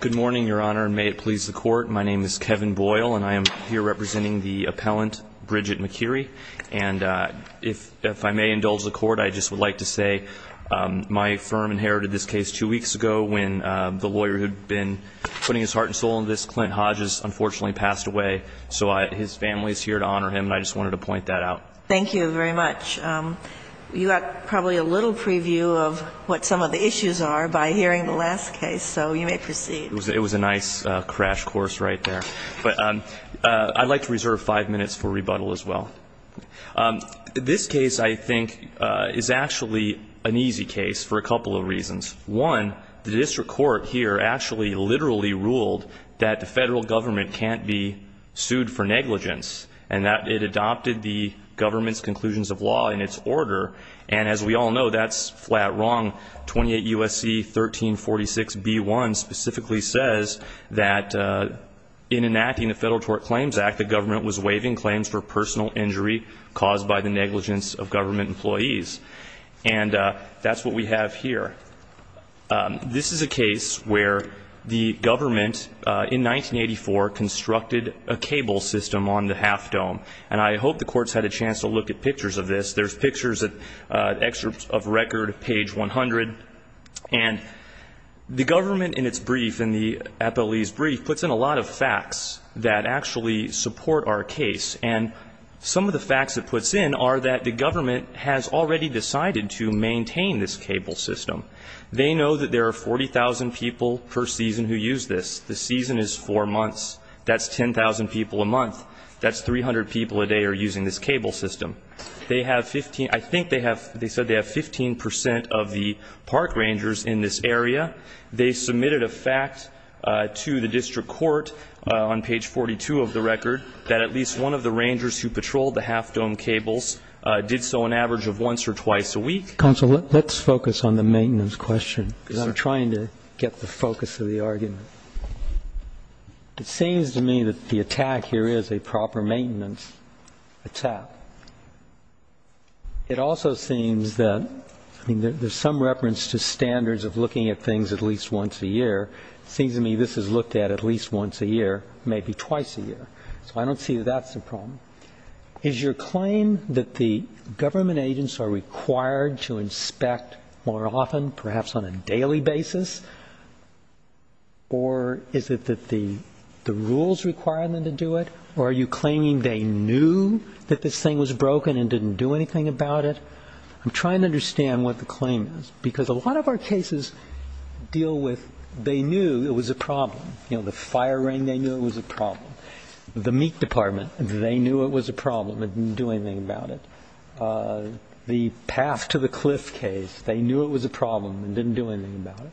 Good morning, Your Honor. May it please the Court, my name is Kevin Brooks. And I am here representing the appellant, Bridget McKeary. And if I may indulge the Court, I just would like to say my firm inherited this case two weeks ago when the lawyer who'd been putting his heart and soul into this, Clint Hodges, unfortunately passed away. So his family's here to honor him, and I just wanted to point that out. Thank you very much. You got probably a little preview of what some of the issues are by hearing the last case. So you may proceed. It was a nice crash course right there. But I'd like to reserve five minutes for rebuttal as well. This case, I think, is actually an easy case for a couple of reasons. One, the district court here actually literally ruled that the federal government can't be sued for negligence, and that it adopted the government's conclusions of law in its order. And as we all know, that's flat wrong. 28 U.S.C. 1346B1 specifically says that in enacting the Federal Tort Claims Act, the government was waiving claims for personal injury caused by the negligence of government employees. And that's what we have here. This is a case where the government, in 1984, constructed a cable system on the half dome. And I hope the court's had a chance to look at pictures of this. There's pictures, excerpts of record, page 100. And the government, in its brief, in the FLE's brief, puts in a lot of facts that actually support our case. And some of the facts it puts in are that the government has already decided to maintain this cable system. They know that there are 40,000 people per season who use this. The season is four months. That's 10,000 people a month. That's 300 people a day are using this cable system. They have 15, I think they have, they said they have 15% of the park rangers in this area. They submitted a fact to the district court on page 42 of the record that at least one of the rangers who patrolled the half dome cables did so on average of once or twice a week. Counsel, let's focus on the maintenance question, because I'm trying to get the focus of the argument. It seems to me that the attack here is a proper maintenance attack. It also seems that, I mean, there's some reference to standards of looking at things at least once a year. It seems to me this is looked at at least once a year, maybe twice a year. So I don't see that that's the problem. Is your claim that the government agents are required to inspect more often, perhaps on a daily basis? Or is it that the rules require them to do it? Or are you claiming they knew that this thing was broken and didn't do anything about it? I'm trying to understand what the claim is, because a lot of our cases deal with they knew it was a problem. The fire ring, they knew it was a problem. The meat department, they knew it was a problem and didn't do anything about it. The path to the cliff case, they knew it was a problem and didn't do anything about it.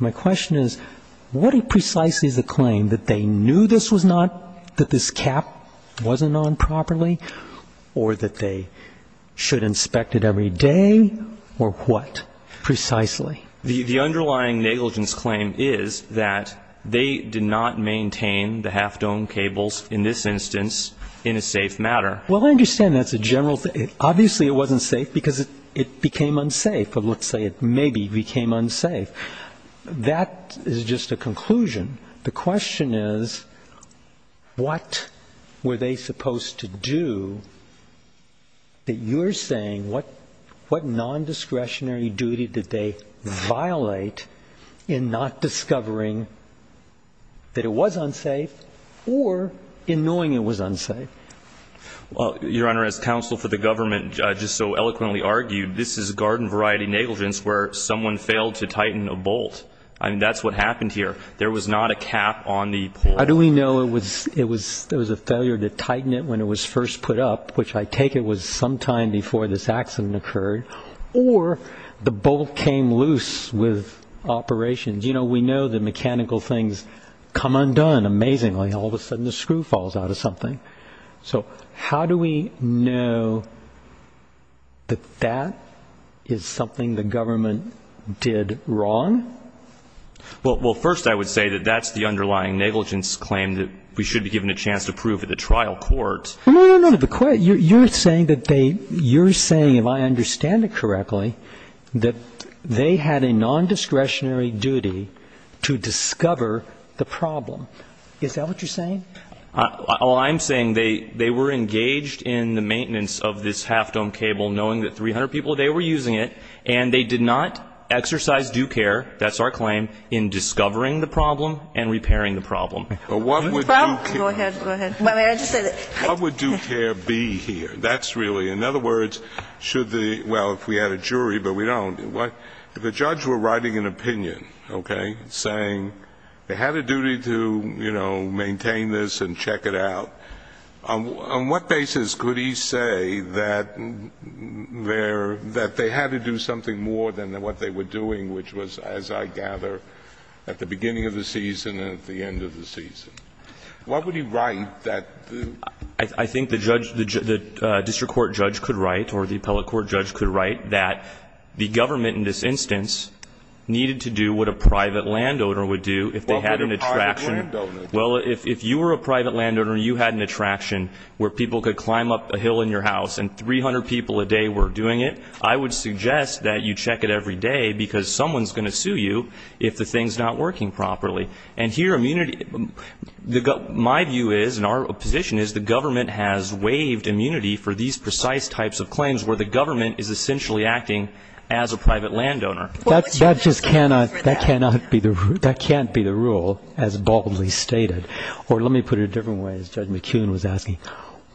My question is, what precisely is the claim? That they knew this was not, that this cap wasn't on properly? Or that they should inspect it every day? Or what, precisely? The underlying negligence claim is that they did not maintain the half-dome cables, in this instance, in a safe manner. Well, I understand that's a general thing. Obviously, it wasn't safe, because it became unsafe. But let's say it maybe became unsafe. That is just a conclusion. The question is, what were they supposed to do that you're saying, what non-discretionary duty did they violate in not discovering that it was unsafe, or in knowing it was unsafe? Well, Your Honor, as counsel for the government, I just so eloquently argued, this is garden variety negligence where someone failed to tighten a bolt. I mean, that's what happened here. There was not a cap on the pole. How do we know it was a failure to tighten it when it was first put up, which I take it was sometime before this accident occurred, or the bolt came loose with operations? You know, we know that mechanical things come undone amazingly. All of a sudden, the screw falls out of something. So how do we know that that is something the government did wrong? Well, first, I would say that that's the underlying negligence claim that we should be given a chance to prove at the trial court. No, no, no, the court, you're saying that they, you're saying, if I understand it correctly, that they had a non-discretionary duty to discover the problem. Is that what you're saying? All I'm saying, they were engaged in the maintenance of this half-dome cable, knowing that 300 people a day were using it, and they did not exercise due care, that's our claim, in discovering the problem and repairing the problem. But what would due care be here? That's really, in other words, should the, well, if we had a jury, but we don't. If a judge were writing an opinion, okay, saying they had a duty to, you know, maintain this and check it out, on what basis could he say that they had to do something more than what they were doing, which was, as I gather, at the beginning of the season and at the end of the season? Why would he write that? I think the judge, the district court judge could write, or the appellate court judge could write, that the government, in this instance, needed to do what a private landowner would do if they had an attraction. Well, if you were a private landowner and you had an attraction where people could climb up a hill in your house and 300 people a day were doing it, I would suggest that you check it every day because someone's going to sue you if the thing's not working properly. And here immunity, my view is, and our position is, the government has waived immunity for these precise types of claims where the government is essentially acting as a private landowner. That just cannot be the rule, as boldly stated. Or let me put it a different way, as Judge McKeown was asking.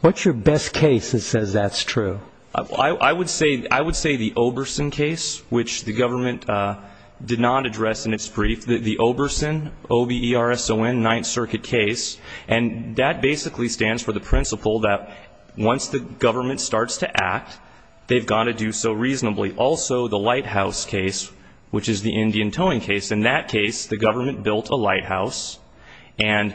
What's your best case that says that's true? I would say the Oberson case, which the government did not address in its brief. The Oberson, O-B-E-R-S-O-N, Ninth Circuit case. And that basically stands for the principle that once the government starts to act, they've got to do so reasonably. Also, the Lighthouse case, which is the Indian towing case. In that case, the government built a lighthouse and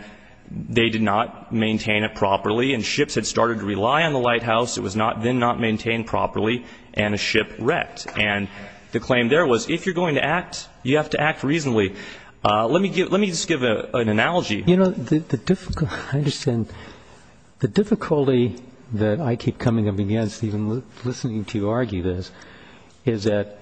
they did not maintain it properly and ships had started to rely on the lighthouse. It was then not maintained properly and a ship wrecked. And the claim there was if you're going to act, you have to act reasonably. Let me just give an analogy. You know, the difficulty that I keep coming up against, even listening to you argue this, is that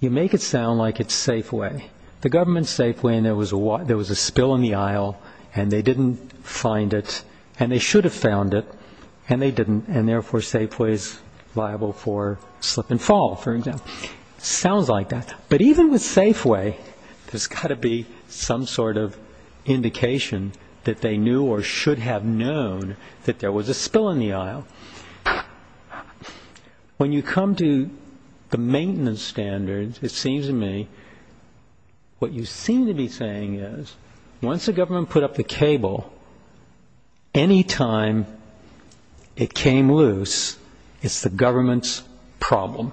you make it sound like it's Safeway. The government's Safeway and there was a spill in the aisle and they didn't find it. And they should have found it and they didn't. And therefore, Safeway is liable for slip and fall, for example. Sounds like that. But even with Safeway, there's got to be some sort of indication that they knew or should have known that there was a spill in the aisle. When you come to the maintenance standards, it seems to me, what you seem to be saying is, once the government put up the cable, any time it came loose, it's the government's problem.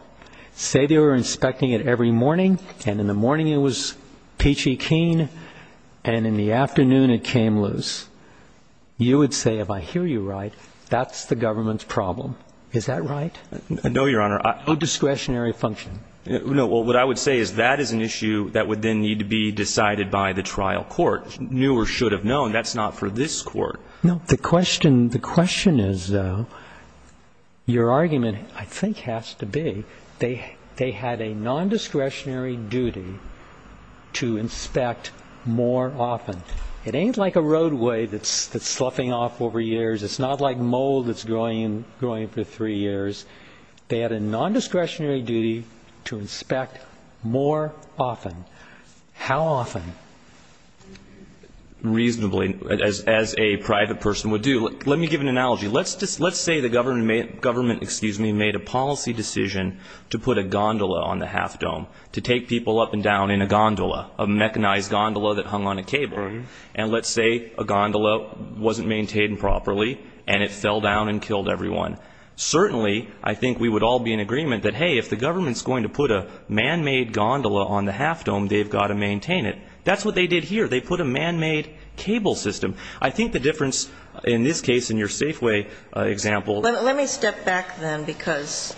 Say they were inspecting it every morning and in the morning it was peachy keen and in the afternoon it came loose. You would say, if I hear you right, that's the government's problem. Is that right? No, Your Honor. No discretionary function. No. Well, what I would say is that is an issue that would then need to be decided by the trial court. Knew or should have known. That's not for this court. No, the question is, though, your argument, I think, has to be, they had a non-discretionary duty to inspect more often. It ain't like a roadway that's sloughing off over years. It's not like mold that's growing for three years. They had a non-discretionary duty to inspect more often. How often? Reasonably, as a private person would do. Let me give an analogy. Let's say the government made a policy decision to put a gondola on the half dome, to take people up and down in a gondola, a mechanized gondola that hung on a cable. And let's say a gondola wasn't maintained properly and it fell down and killed everyone. Certainly, I think we would all be in agreement that, hey, if the government's going to put a man-made gondola on the half dome, they've got to maintain it. That's what they did here. They put a man-made cable system. I think the difference, in this case, in your Safeway example. Let me step back, then, because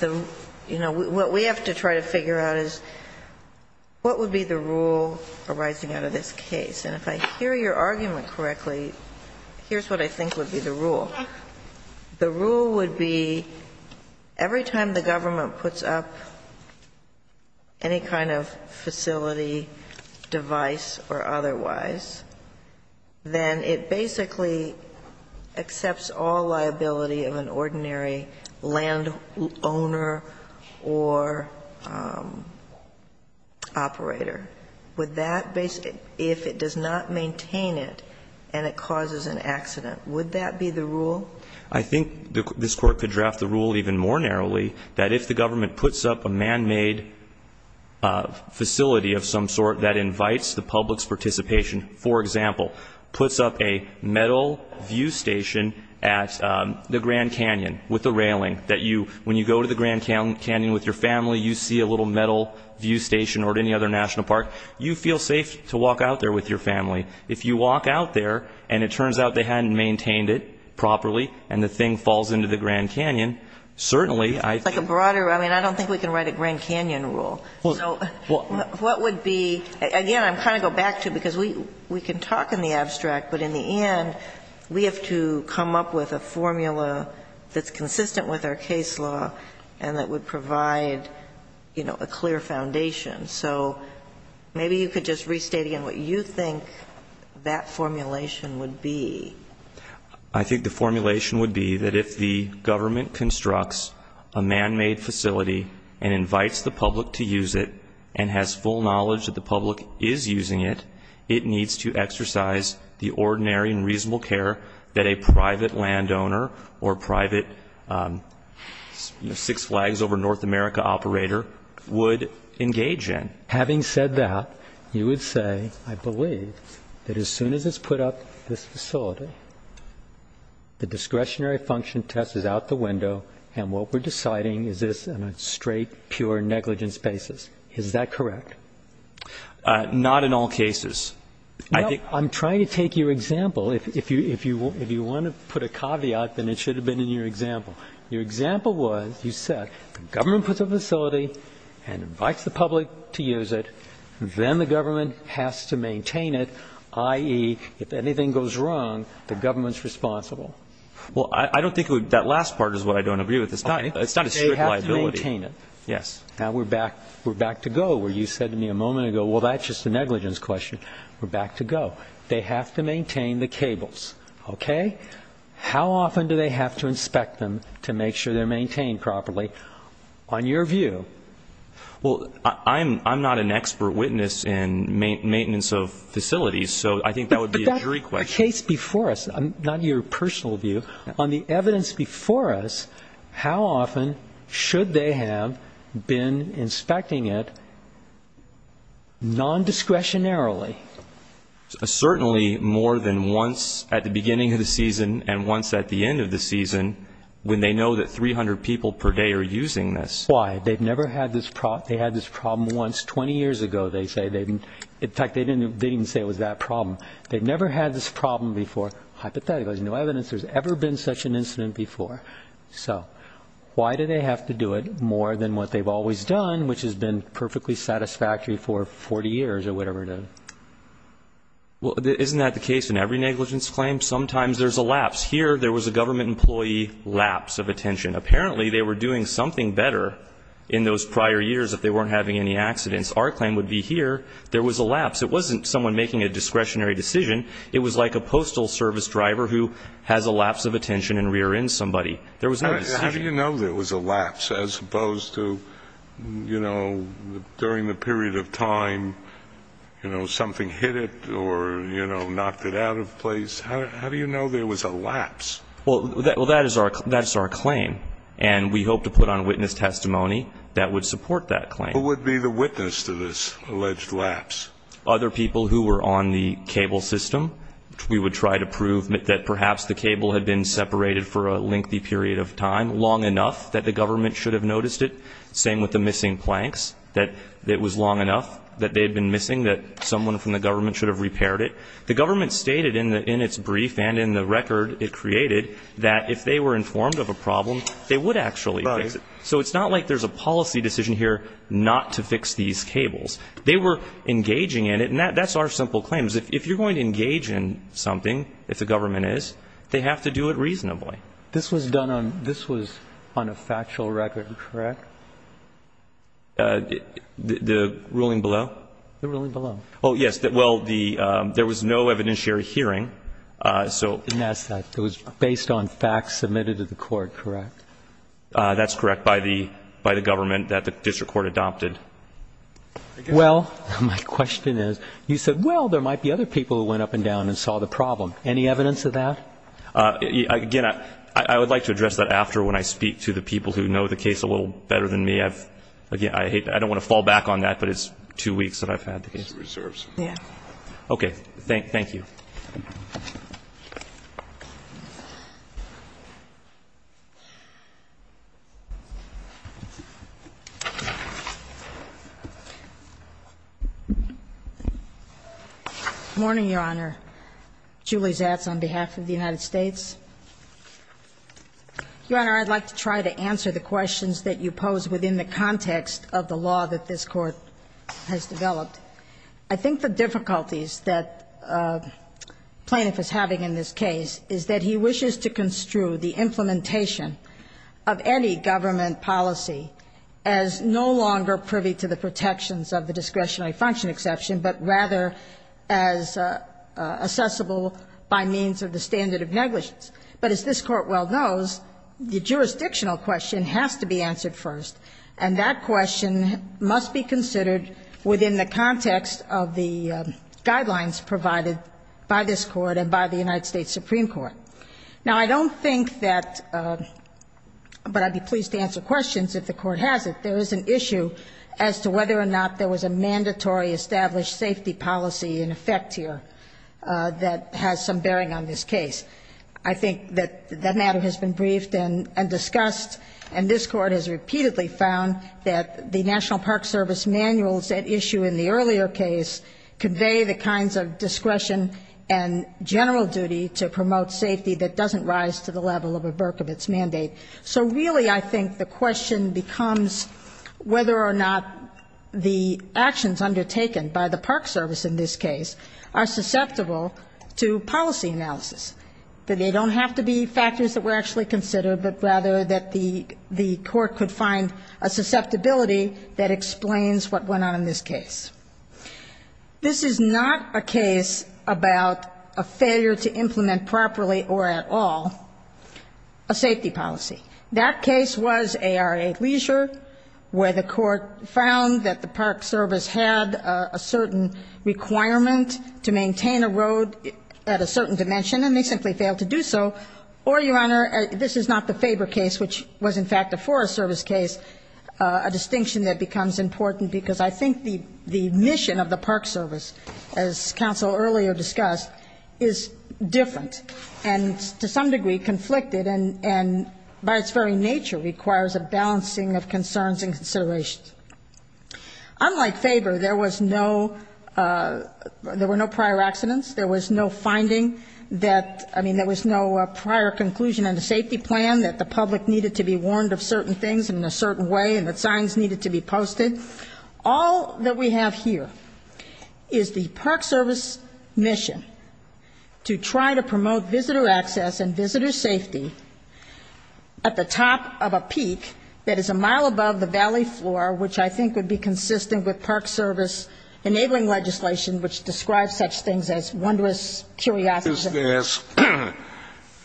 what we have to try to figure out is, what would be the rule arising out of this case? And if I hear your argument correctly, here's what I think would be the rule. The rule would be, every time the government puts up any kind of facility, device, or otherwise, then it basically accepts all liability of an ordinary landowner or operator. Would that basically – if it does not maintain it and it causes an accident, would that be the rule? I think this Court could draft the rule even more narrowly, that if the government puts up a man-made facility of some sort that invites the public's participation, for example, puts up a metal view station at the Grand Canyon with the railing, that when you go to the Grand Canyon with your family, you see a little metal view station or at any other national park. You feel safe to walk out there with your family. If you walk out there and it turns out they hadn't maintained it properly and the thing falls into the Grand Canyon, certainly I think – It's like a broader – I mean, I don't think we can write a Grand Canyon rule. So what would be – again, I'm trying to go back to, because we can talk in the abstract, but in the end, we have to come up with a formula that's consistent with our case law and that would provide, you know, a clear foundation. So maybe you could just restate again what you think that formulation would be. I think the formulation would be that if the government constructs a man-made facility and invites the public to use it and has full knowledge that the public is using it, it needs to exercise the ordinary and reasonable care that a private landowner or private Six Flags over North America operator would engage in. Having said that, you would say, I believe that as soon as it's put up, this facility, the discretionary function test is out the window and what we're deciding is this on a straight, pure negligence basis. Is that correct? Not in all cases. I think – No, I'm trying to take your example. If you want to put a caveat, then it should have been in your example. Your example was, you said, the government puts a facility and invites the public to use it, then the government has to maintain it, i.e., if anything goes wrong, the government's responsible. Well, I don't think that last part is what I don't agree with. It's not a strict liability. They have to maintain it. Yes. Now, we're back to go where you said to me a moment ago, well, that's just a negligence question. We're back to go. They have to maintain the cables, okay? How often do they have to inspect them to make sure they're maintained properly, on your view? Well, I'm not an expert witness in maintenance of facilities, so I think that would be a jury question. But that's the case before us, not your personal view. On the evidence before us, how often should they have been inspecting it non-discretionarily? Certainly more than once at the beginning of the season and once at the end of the season, when they know that 300 people per day are using this. Why? They've never had this problem. They had this problem once 20 years ago, they say. In fact, they didn't even say it was that problem. They've never had this problem before. Hypothetically, there's no evidence there's ever been such an incident before. So why do they have to do it more than what they've always done, which has been perfectly satisfactory for 40 years or whatever it is? Well, isn't that the case in every negligence claim? Sometimes there's a lapse. Here, there was a government employee lapse of attention. Apparently, they were doing something better in those prior years if they weren't having any accidents. Our claim would be here, there was a lapse. It wasn't someone making a discretionary decision. It was like a postal service driver who has a lapse of attention and rears in somebody. There was no decision. How do you know there was a lapse as opposed to, you know, during the period of time, you know, something hit it or, you know, knocked it out of place? How do you know there was a lapse? Well, that is our claim. And we hope to put on witness testimony that would support that claim. Who would be the witness to this alleged lapse? Other people who were on the cable system. We would try to prove that perhaps the cable had been separated for a lengthy period of time, long enough that the government should have noticed it. Same with the missing planks, that it was long enough that they had been missing that someone from the government should have repaired it. The government stated in its brief and in the record it created that if they were informed of a problem, they would actually fix it. So it's not like there's a policy decision here not to fix these cables. They were engaging in it. And that's our simple claim. If you're going to engage in something, if the government is, they have to do it reasonably. This was done on, this was on a factual record, correct? The ruling below? The ruling below. Oh, yes. Well, the, there was no evidentiary hearing, so. And that's, it was based on facts submitted to the court, correct? That's correct, by the, by the government that the district court adopted. Well, my question is, you said, well, there might be other people who went up and down and saw the problem. Any evidence of that? Again, I, I would like to address that after when I speak to the people who know the case a little better than me. I've, again, I hate, I don't want to fall back on that, but it's two weeks that I've had the case. Reserves. Yeah. Okay. Thank, thank you. Good morning, Your Honor. Julie Zatz on behalf of the United States. Your Honor, I'd like to try to answer the questions that you pose within the context of the law that this Court has developed. I think the difficulties that plaintiff is having in this case is that he wishes to construe the implementation of any government policy as no longer privy to the protections of the discretionary function exception, but rather as accessible by means of the standard of negligence. But as this Court well knows, the jurisdictional question has to be answered first, and that question must be considered within the context of the guidelines provided by this Court and by the United States Supreme Court. Now, I don't think that, but I'd be pleased to answer questions if the Court has it. There is an issue as to whether or not there was a mandatory established safety policy in effect here that has some bearing on this case. I think that that matter has been briefed and discussed, and this Court has repeatedly found that the National Park Service manuals at issue in the earlier case convey the kinds of discretion and general duty to promote safety that doesn't rise to the level of a Berkovitz mandate. So really, I think the question becomes whether or not the actions undertaken by the National Park Service, that they don't have to be factors that were actually considered, but rather that the Court could find a susceptibility that explains what went on in this case. This is not a case about a failure to implement properly or at all a safety policy. That case was ARA Leisure, where the Court found that the Park Service had a certain requirement to maintain a road at a certain dimension, and they simply failed to do so. Or, Your Honor, this is not the Faber case, which was, in fact, a Forest Service case, a distinction that becomes important because I think the mission of the Park Service, as Council earlier discussed, is different and to some degree conflicted and by its very nature requires a balancing of concerns and considerations. Unlike Faber, there was no, there were no prior accidents, there was no finding that, I mean, there was no prior conclusion on the safety plan, that the public needed to be warned of certain things in a certain way and that signs needed to be posted. All that we have here is the Park Service mission to try to promote visitor access and visitor which I think would be consistent with Park Service enabling legislation which describes such things as wondrous curiosity. Just to ask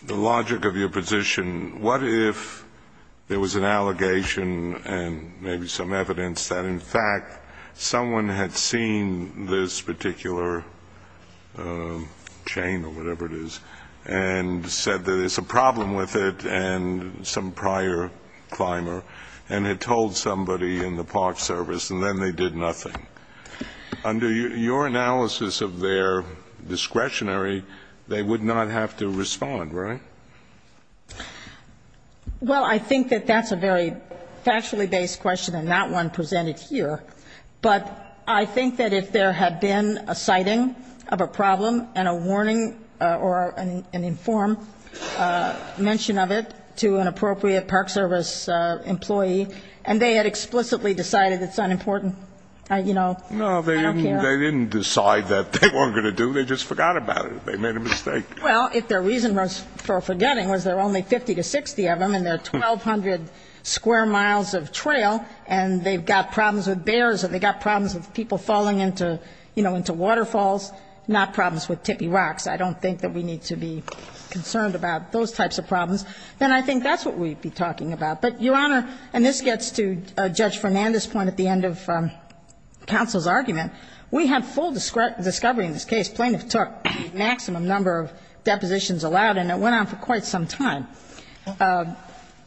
the logic of your position, what if there was an allegation and maybe some evidence that, in fact, someone had seen this particular chain or whatever it is and said that there's a problem with it and some prior climber and had told somebody in the Park Service and then they did nothing? Under your analysis of their discretionary, they would not have to respond, right? Well, I think that that's a very factually based question and not one presented here. But I think that if there had been a sighting of a problem and a warning or an informed mention of it to an appropriate Park Service employee and they had explicitly decided it's not important, you know, I don't care. No, they didn't decide that they weren't going to do, they just forgot about it, they made a mistake. Well, if their reason for forgetting was there were only 50 to 60 of them and they're 1,200 square miles of trail and they've got problems with bears and they've got problems with people falling into, you know, into waterfalls, not problems with tippy rocks. I don't think that we need to be concerned about those types of problems. Then I think that's what we'd be talking about. But, Your Honor, and this gets to Judge Fernandez's point at the end of counsel's argument, we have full discovery in this case. Plaintiff took maximum number of depositions allowed and it went on for quite some time.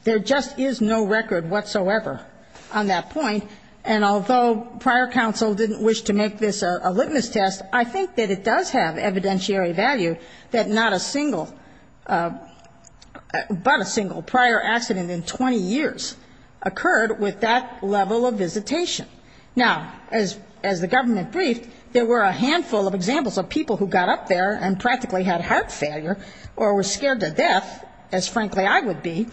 There just is no record whatsoever on that point. And although prior counsel didn't wish to make this a litmus test, I think that it does have evidentiary value that not a single, but a single prior accident in 20 years occurred with that level of visitation. Now, as the government briefed, there were a handful of examples of people who got up there and practically had heart failure or were scared to death, as frankly I would be,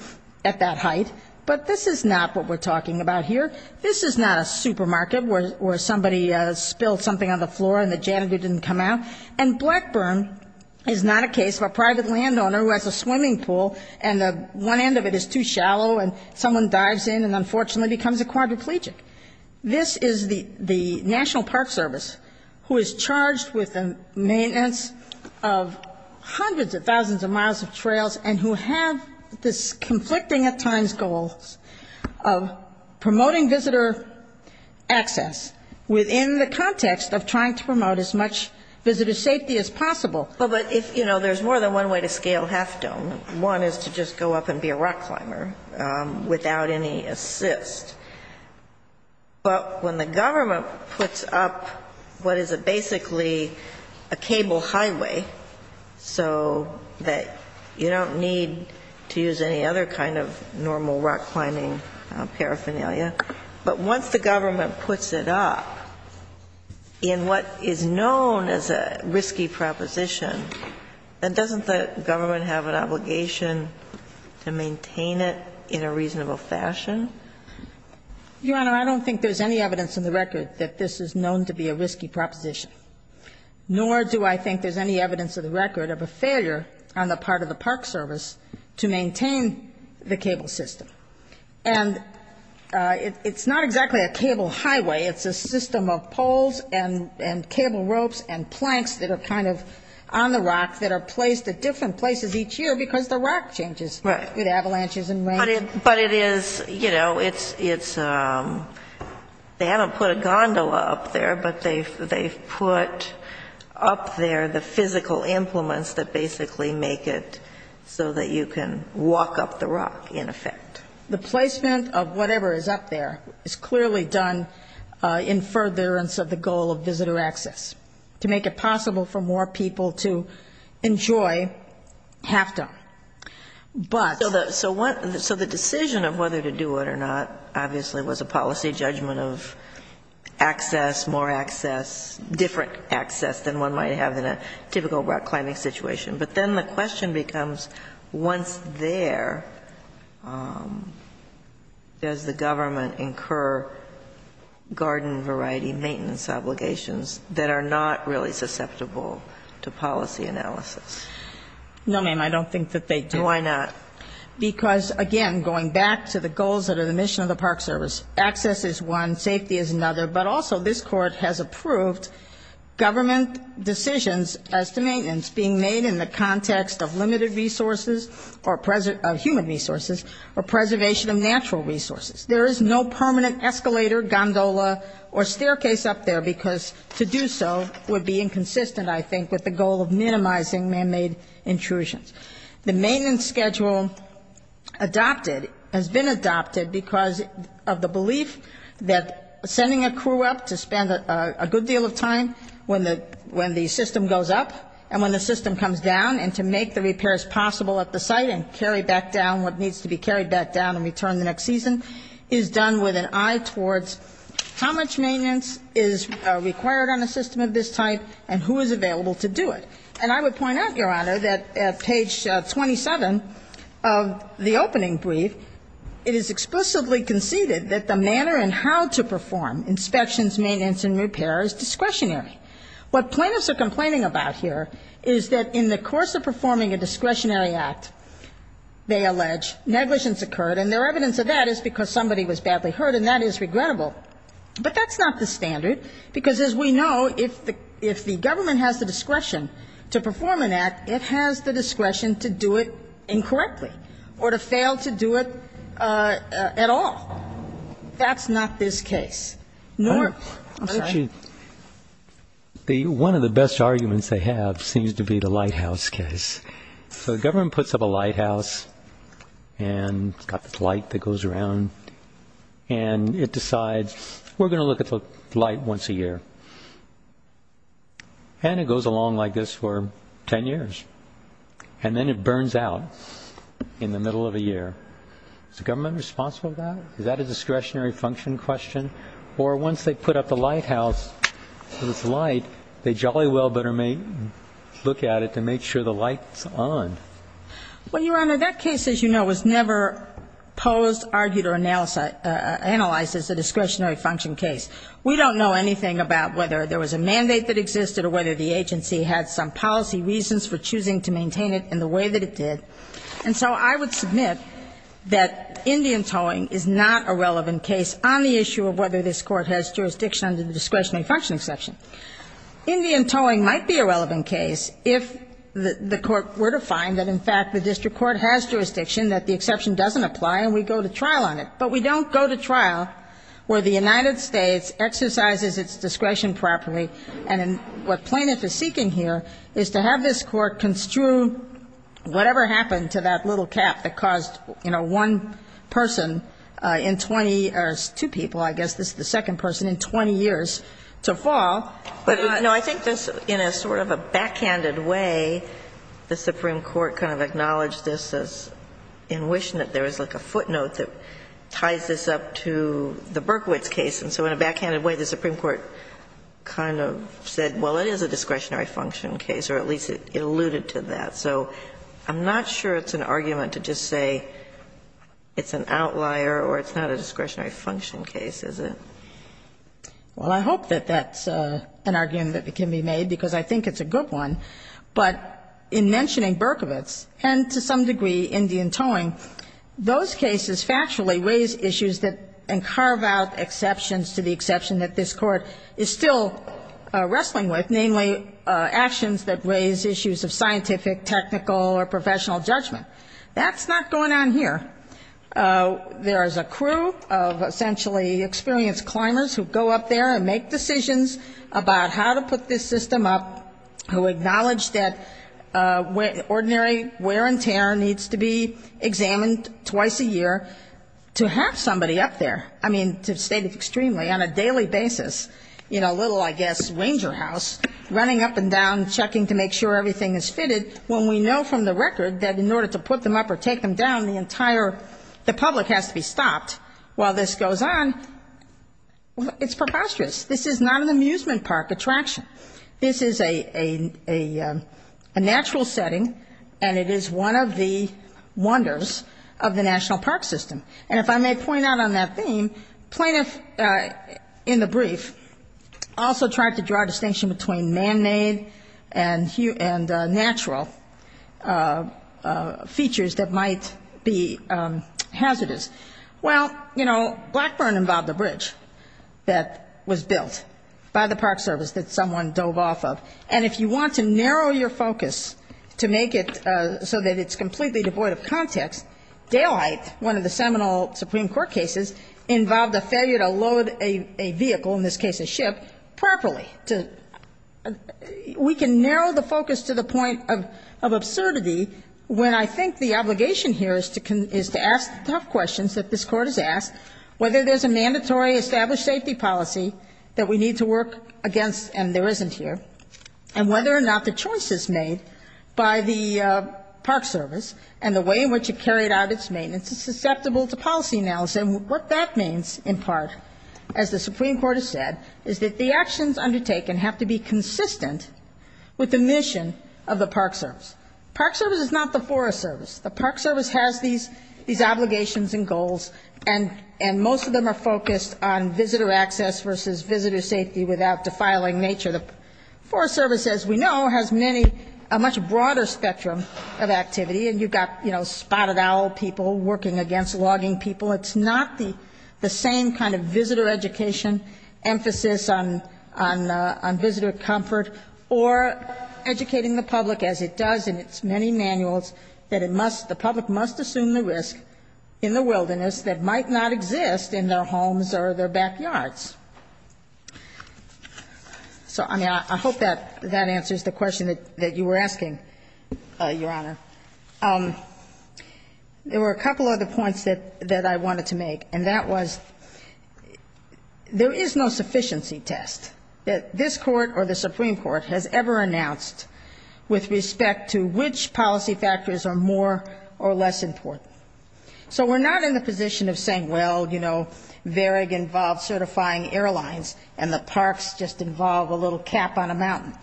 at that height. But this is not what we're talking about here. This is not a supermarket where somebody spilled something on the floor and the janitor didn't come out and Blackburn is not a case of a private landowner who has a swimming pool and the one end of it is too shallow and someone dives in and unfortunately becomes a quadriplegic. This is the National Park Service who is charged with the maintenance of hundreds of thousands of miles of trails and who have this conflicting at times goal of promoting visitor access within the context of trying to promote as much visitor safety as possible. But if, you know, there's more than one way to scale Half Dome. One is to just go up and be a rock climber without any assist. But when the government puts up what is basically a cable highway so that you don't need to use any other kind of normal rock climbing paraphernalia. But once the government puts it up in what is known as a risky proposition, then doesn't the government have an obligation to maintain it in a reasonable fashion? Your Honor, I don't think there's any evidence in the record that this is known to be a risky proposition, nor do I think there's any evidence of the record of a failure on the part of the Park Service to maintain the cable system. And it's not exactly a cable highway. It's a system of poles and cable ropes and planks that are kind of on the rock that are placed at different places each year because the rock changes. It avalanches and rains. But it is, you know, it's they haven't put a gondola up there, but they've put up there the physical implements that basically make it so that you can walk up the rock, in effect. The placement of whatever is up there is clearly done in furtherance of the goal of visitor access. To make it possible for more people to enjoy have to. But... So the decision of whether to do it or not, obviously, was a policy judgment of access, more access, different access than one might have in a typical rock climbing situation. But then the question becomes, once there, does the government incur garden variety maintenance obligations that are not really susceptible to policy analysis? No, ma'am, I don't think that they do. Why not? Because, again, going back to the goals that are the mission of the Park Service, access is one, safety is another. But also this Court has approved government decisions as to maintenance being made in the context of limited resources or present, of human resources, or preservation of natural resources. There is no permanent escalator, gondola, or staircase up there, because to do so would be inconsistent, I think, with the goal of minimizing manmade intrusions. The maintenance schedule adopted, has been adopted because of the belief that sending a crew to the park crew up to spend a good deal of time when the system goes up, and when the system comes down, and to make the repairs possible at the site and carry back down what needs to be carried back down and returned the next season, is done with an eye towards how much maintenance is required on a system of this type and who is available to do it. And I would point out, Your Honor, that at page 27 of the opening brief, it is explicitly conceded that the manner in how to perform inspections, maintenance, and repair is discretionary. What plaintiffs are complaining about here is that in the course of performing a discretionary act, they allege, negligence occurred, and their evidence of that is because somebody was badly hurt, and that is regrettable. But that's not the standard, because as we know, if the government has the discretion to perform an act, it has the discretion to do it incorrectly, or to fail to do it at all. That's not this case. One of the best arguments they have seems to be the lighthouse case. So the government puts up a lighthouse, and it's got this light that goes around, and it decides, we're going to look at the light once a year. And it goes along like this for ten years. And then it burns out in the middle of a year. Is the government responsible for that? Is that a discretionary function question? Or once they put up the lighthouse with this light, they jolly well better look at it to make sure the light's on. Well, Your Honor, that case, as you know, was never posed, argued, or analyzed as a discretionary function case. We don't know anything about whether there was a mandate that existed or whether the agency had some policy reasons for choosing to maintain it in the way that it did. And so I would submit that Indian towing is not a relevant case on the issue of whether this Court has jurisdiction under the discretionary function exception. Indian towing might be a relevant case if the Court were to find that, in fact, the district court has jurisdiction, that the exception doesn't apply, and we go to trial on it. But we don't go to trial where the United States exercises its discretion property. And what plaintiff is seeking here is to have this Court construe whatever happened to that little cap that caused, you know, one person in 20 years, two people, I guess, this is the second person in 20 years, to fall. No, I think this, in a sort of a backhanded way, the Supreme Court kind of acknowledged this as in wishing that there was like a footnote that ties this up to the Berkowitz case, and so in a backhanded way, the Supreme Court kind of said, well, it is a discretionary function case, or at least it alluded to that. So I'm not sure it's an argument to just say it's an outlier or it's not a discretionary function case, is it? Well, I hope that that's an argument that can be made, because I think it's a good one. But in mentioning Berkowitz, and to some degree Indian Towing, those cases factually raise issues that carve out exceptions to the exception that this Court is still wrestling with, namely actions that raise issues of scientific, technical, or professional judgment. That's not going on here. There is a crew of essentially experienced climbers who go up there and make decisions about how to put this system up, who acknowledge that ordinary wear and tear needs to be examined twice a year to have somebody up there, I mean, to state it extremely, on a daily basis, in a little, I guess, ranger house, running up and down, checking to make sure everything is fitted, when we know from the record that in order to put them up or take them down, the entire, the public has to be stopped. While this goes on, it's preposterous. This is not an amusement park attraction. This is a natural setting, and it is one of the wonders of the national park system. And if I may point out on that theme, plaintiffs in the brief also tried to draw attention to features that might be hazardous. Well, you know, Blackburn involved a bridge that was built by the park service that someone dove off of. And if you want to narrow your focus to make it so that it's completely devoid of context, Daylight, one of the seminal Supreme Court cases, involved a failure to load a vehicle, in this case a ship, properly. We can narrow the focus to the point of absurdity when I think the obligation here is to ask the tough questions that this Court has asked, whether there's a mandatory established safety policy that we need to work against, and there isn't here, and whether or not the choice is made by the park service and the way in which it carried out its maintenance is susceptible to policy analysis. And what that means, in part, as the Supreme Court has said, is that the actions undertaken have to be consistent with the mission of the park service. Park service is not the forest service. The park service has these obligations and goals, and most of them are focused on visitor access versus visitor safety without defiling nature. The forest service, as we know, has many, a much broader spectrum of activity. And you've got, you know, spotted owl people working against logging people. It's not the same kind of visitor education, emphasis on visitor comfort, or educating the public, as it does in its many manuals, that it must, the public must assume the risk in the wilderness that might not exist in their homes or their backyards. So, I mean, I hope that answers the question that you were asking, Your Honor. There were a couple other points that I wanted to make, and that was, there is no sufficiency test that this Court or the Supreme Court has ever announced with respect to which policy factors are more or less important. So we're not in the position of saying, well, you know, VARIG involves certifying airlines, and the parks just involve a little cap on a mountain.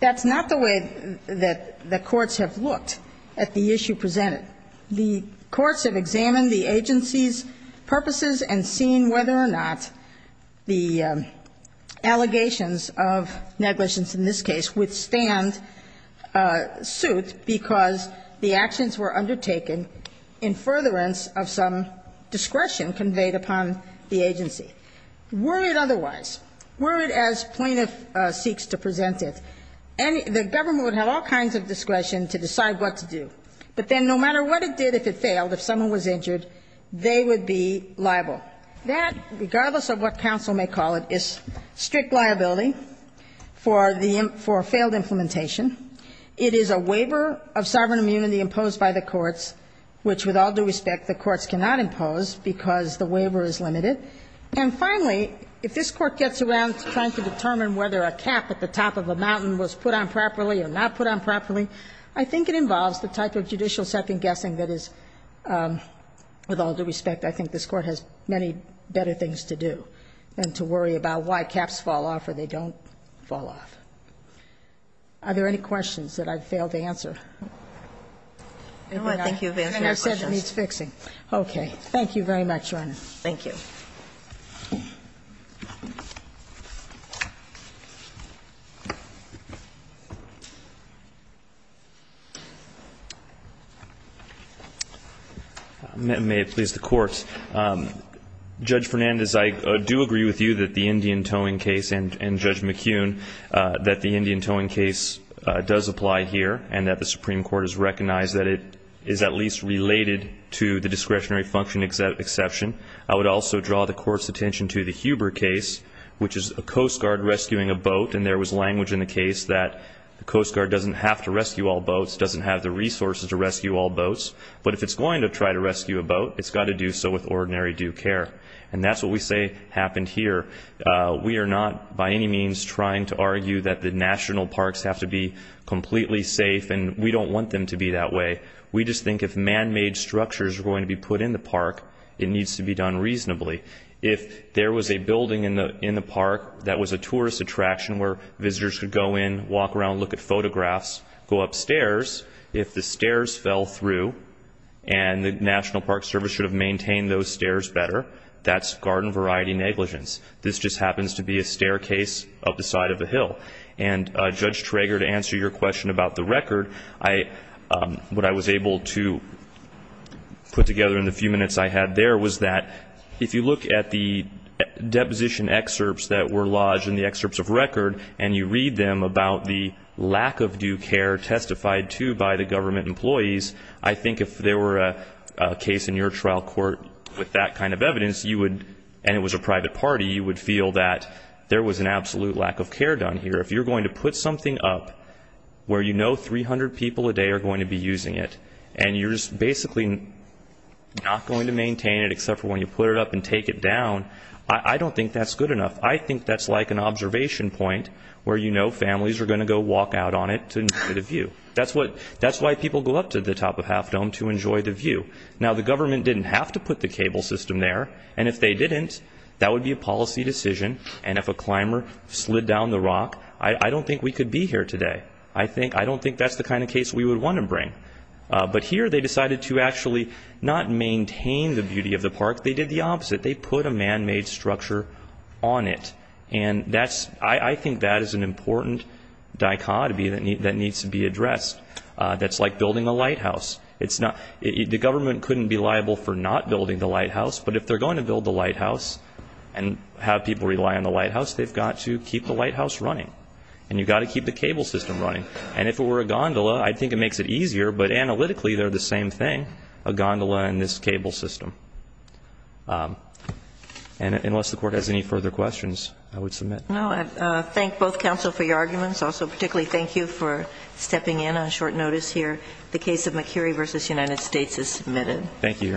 That's not the way that the courts have looked at the issue presented. The courts have examined the agency's purposes and seen whether or not the allegations of negligence in this case withstand suit because the actions were undertaken in furtherance of some discretion conveyed upon the agency. Were it otherwise, were it as plaintiff seeks to present it, and the government would have all kinds of discretion to decide what to do, but then no matter what it did, if it failed, if someone was injured, they would be liable. That, regardless of what counsel may call it, is strict liability for the, for a failed implementation. It is a waiver of sovereign immunity imposed by the courts, which with all due respect, the courts cannot impose because the waiver is limited. And finally, if this Court gets around to trying to determine whether a cap at the top of a mountain was put on properly or not put on properly, I think it involves the type of judicial second-guessing that is, with all due respect, I think this Court has many better things to do than to worry about why caps fall off or they don't fall off. Are there any questions that I've failed to answer? No, I think you've answered your questions. I said it needs fixing. Okay. Thank you very much, Your Honor. Thank you. May it please the Court. Judge Fernandez, I do agree with you that the Indian towing case and Judge McKeown, that the Indian towing case does apply here and that the Supreme Court has recognized that it is at least related to the discretionary function exception. I would also draw the Court's attention to the Huber case, which is a Coast Guard rescuing a boat, and there was language in the case that the Coast Guard doesn't have to rescue all boats, doesn't have the resources to rescue all boats, but if it's going to try to rescue a boat, it's got to do so with ordinary due care. And that's what we say happened here. We are not by any means trying to argue that the national parks have to be completely safe, and we don't want them to be that way. We just think if manmade structures are going to be put in the park, it needs to be done reasonably. If there was a building in the park that was a tourist attraction where visitors could go in, walk around, look at photographs, go upstairs, if the stairs fell through and the National Park Service should have maintained those stairs better, that's garden variety negligence. This just happens to be a staircase up the side of the hill. And Judge Traeger, to answer your question about the record, what I was able to put together in the few minutes I had there was that if you look at the deposition excerpts that were lodged in the excerpts of record and you read them about the lack of due care testified to by the government employees, I think if there were a private party and it was a private party, you would feel that there was an absolute lack of care done here. If you're going to put something up where you know 300 people a day are going to be using it, and you're just basically not going to maintain it except for when you put it up and take it down, I don't think that's good enough. I think that's like an observation point where you know families are going to go walk out on it to enjoy the view. That's why people go up to the top of Half Dome to enjoy the view. Now, the government didn't have to put the cable system there. And if they didn't, that would be a policy decision. And if a climber slid down the rock, I don't think we could be here today. I don't think that's the kind of case we would want to bring. But here they decided to actually not maintain the beauty of the park. They did the opposite. They put a man-made structure on it. And I think that is an important dichotomy that needs to be addressed. That's like building a lighthouse. You've got to keep the cable system running. And if it were a gondola, I think it makes it easier. But analytically they're the same thing, a gondola and this cable system. And unless the Court has any further questions, I would submit. No, I thank both counsel for your arguments. Also particularly thank you for stepping in on short notice here. The case of McCurry v. United States is submitted. Thank you, Your Honor.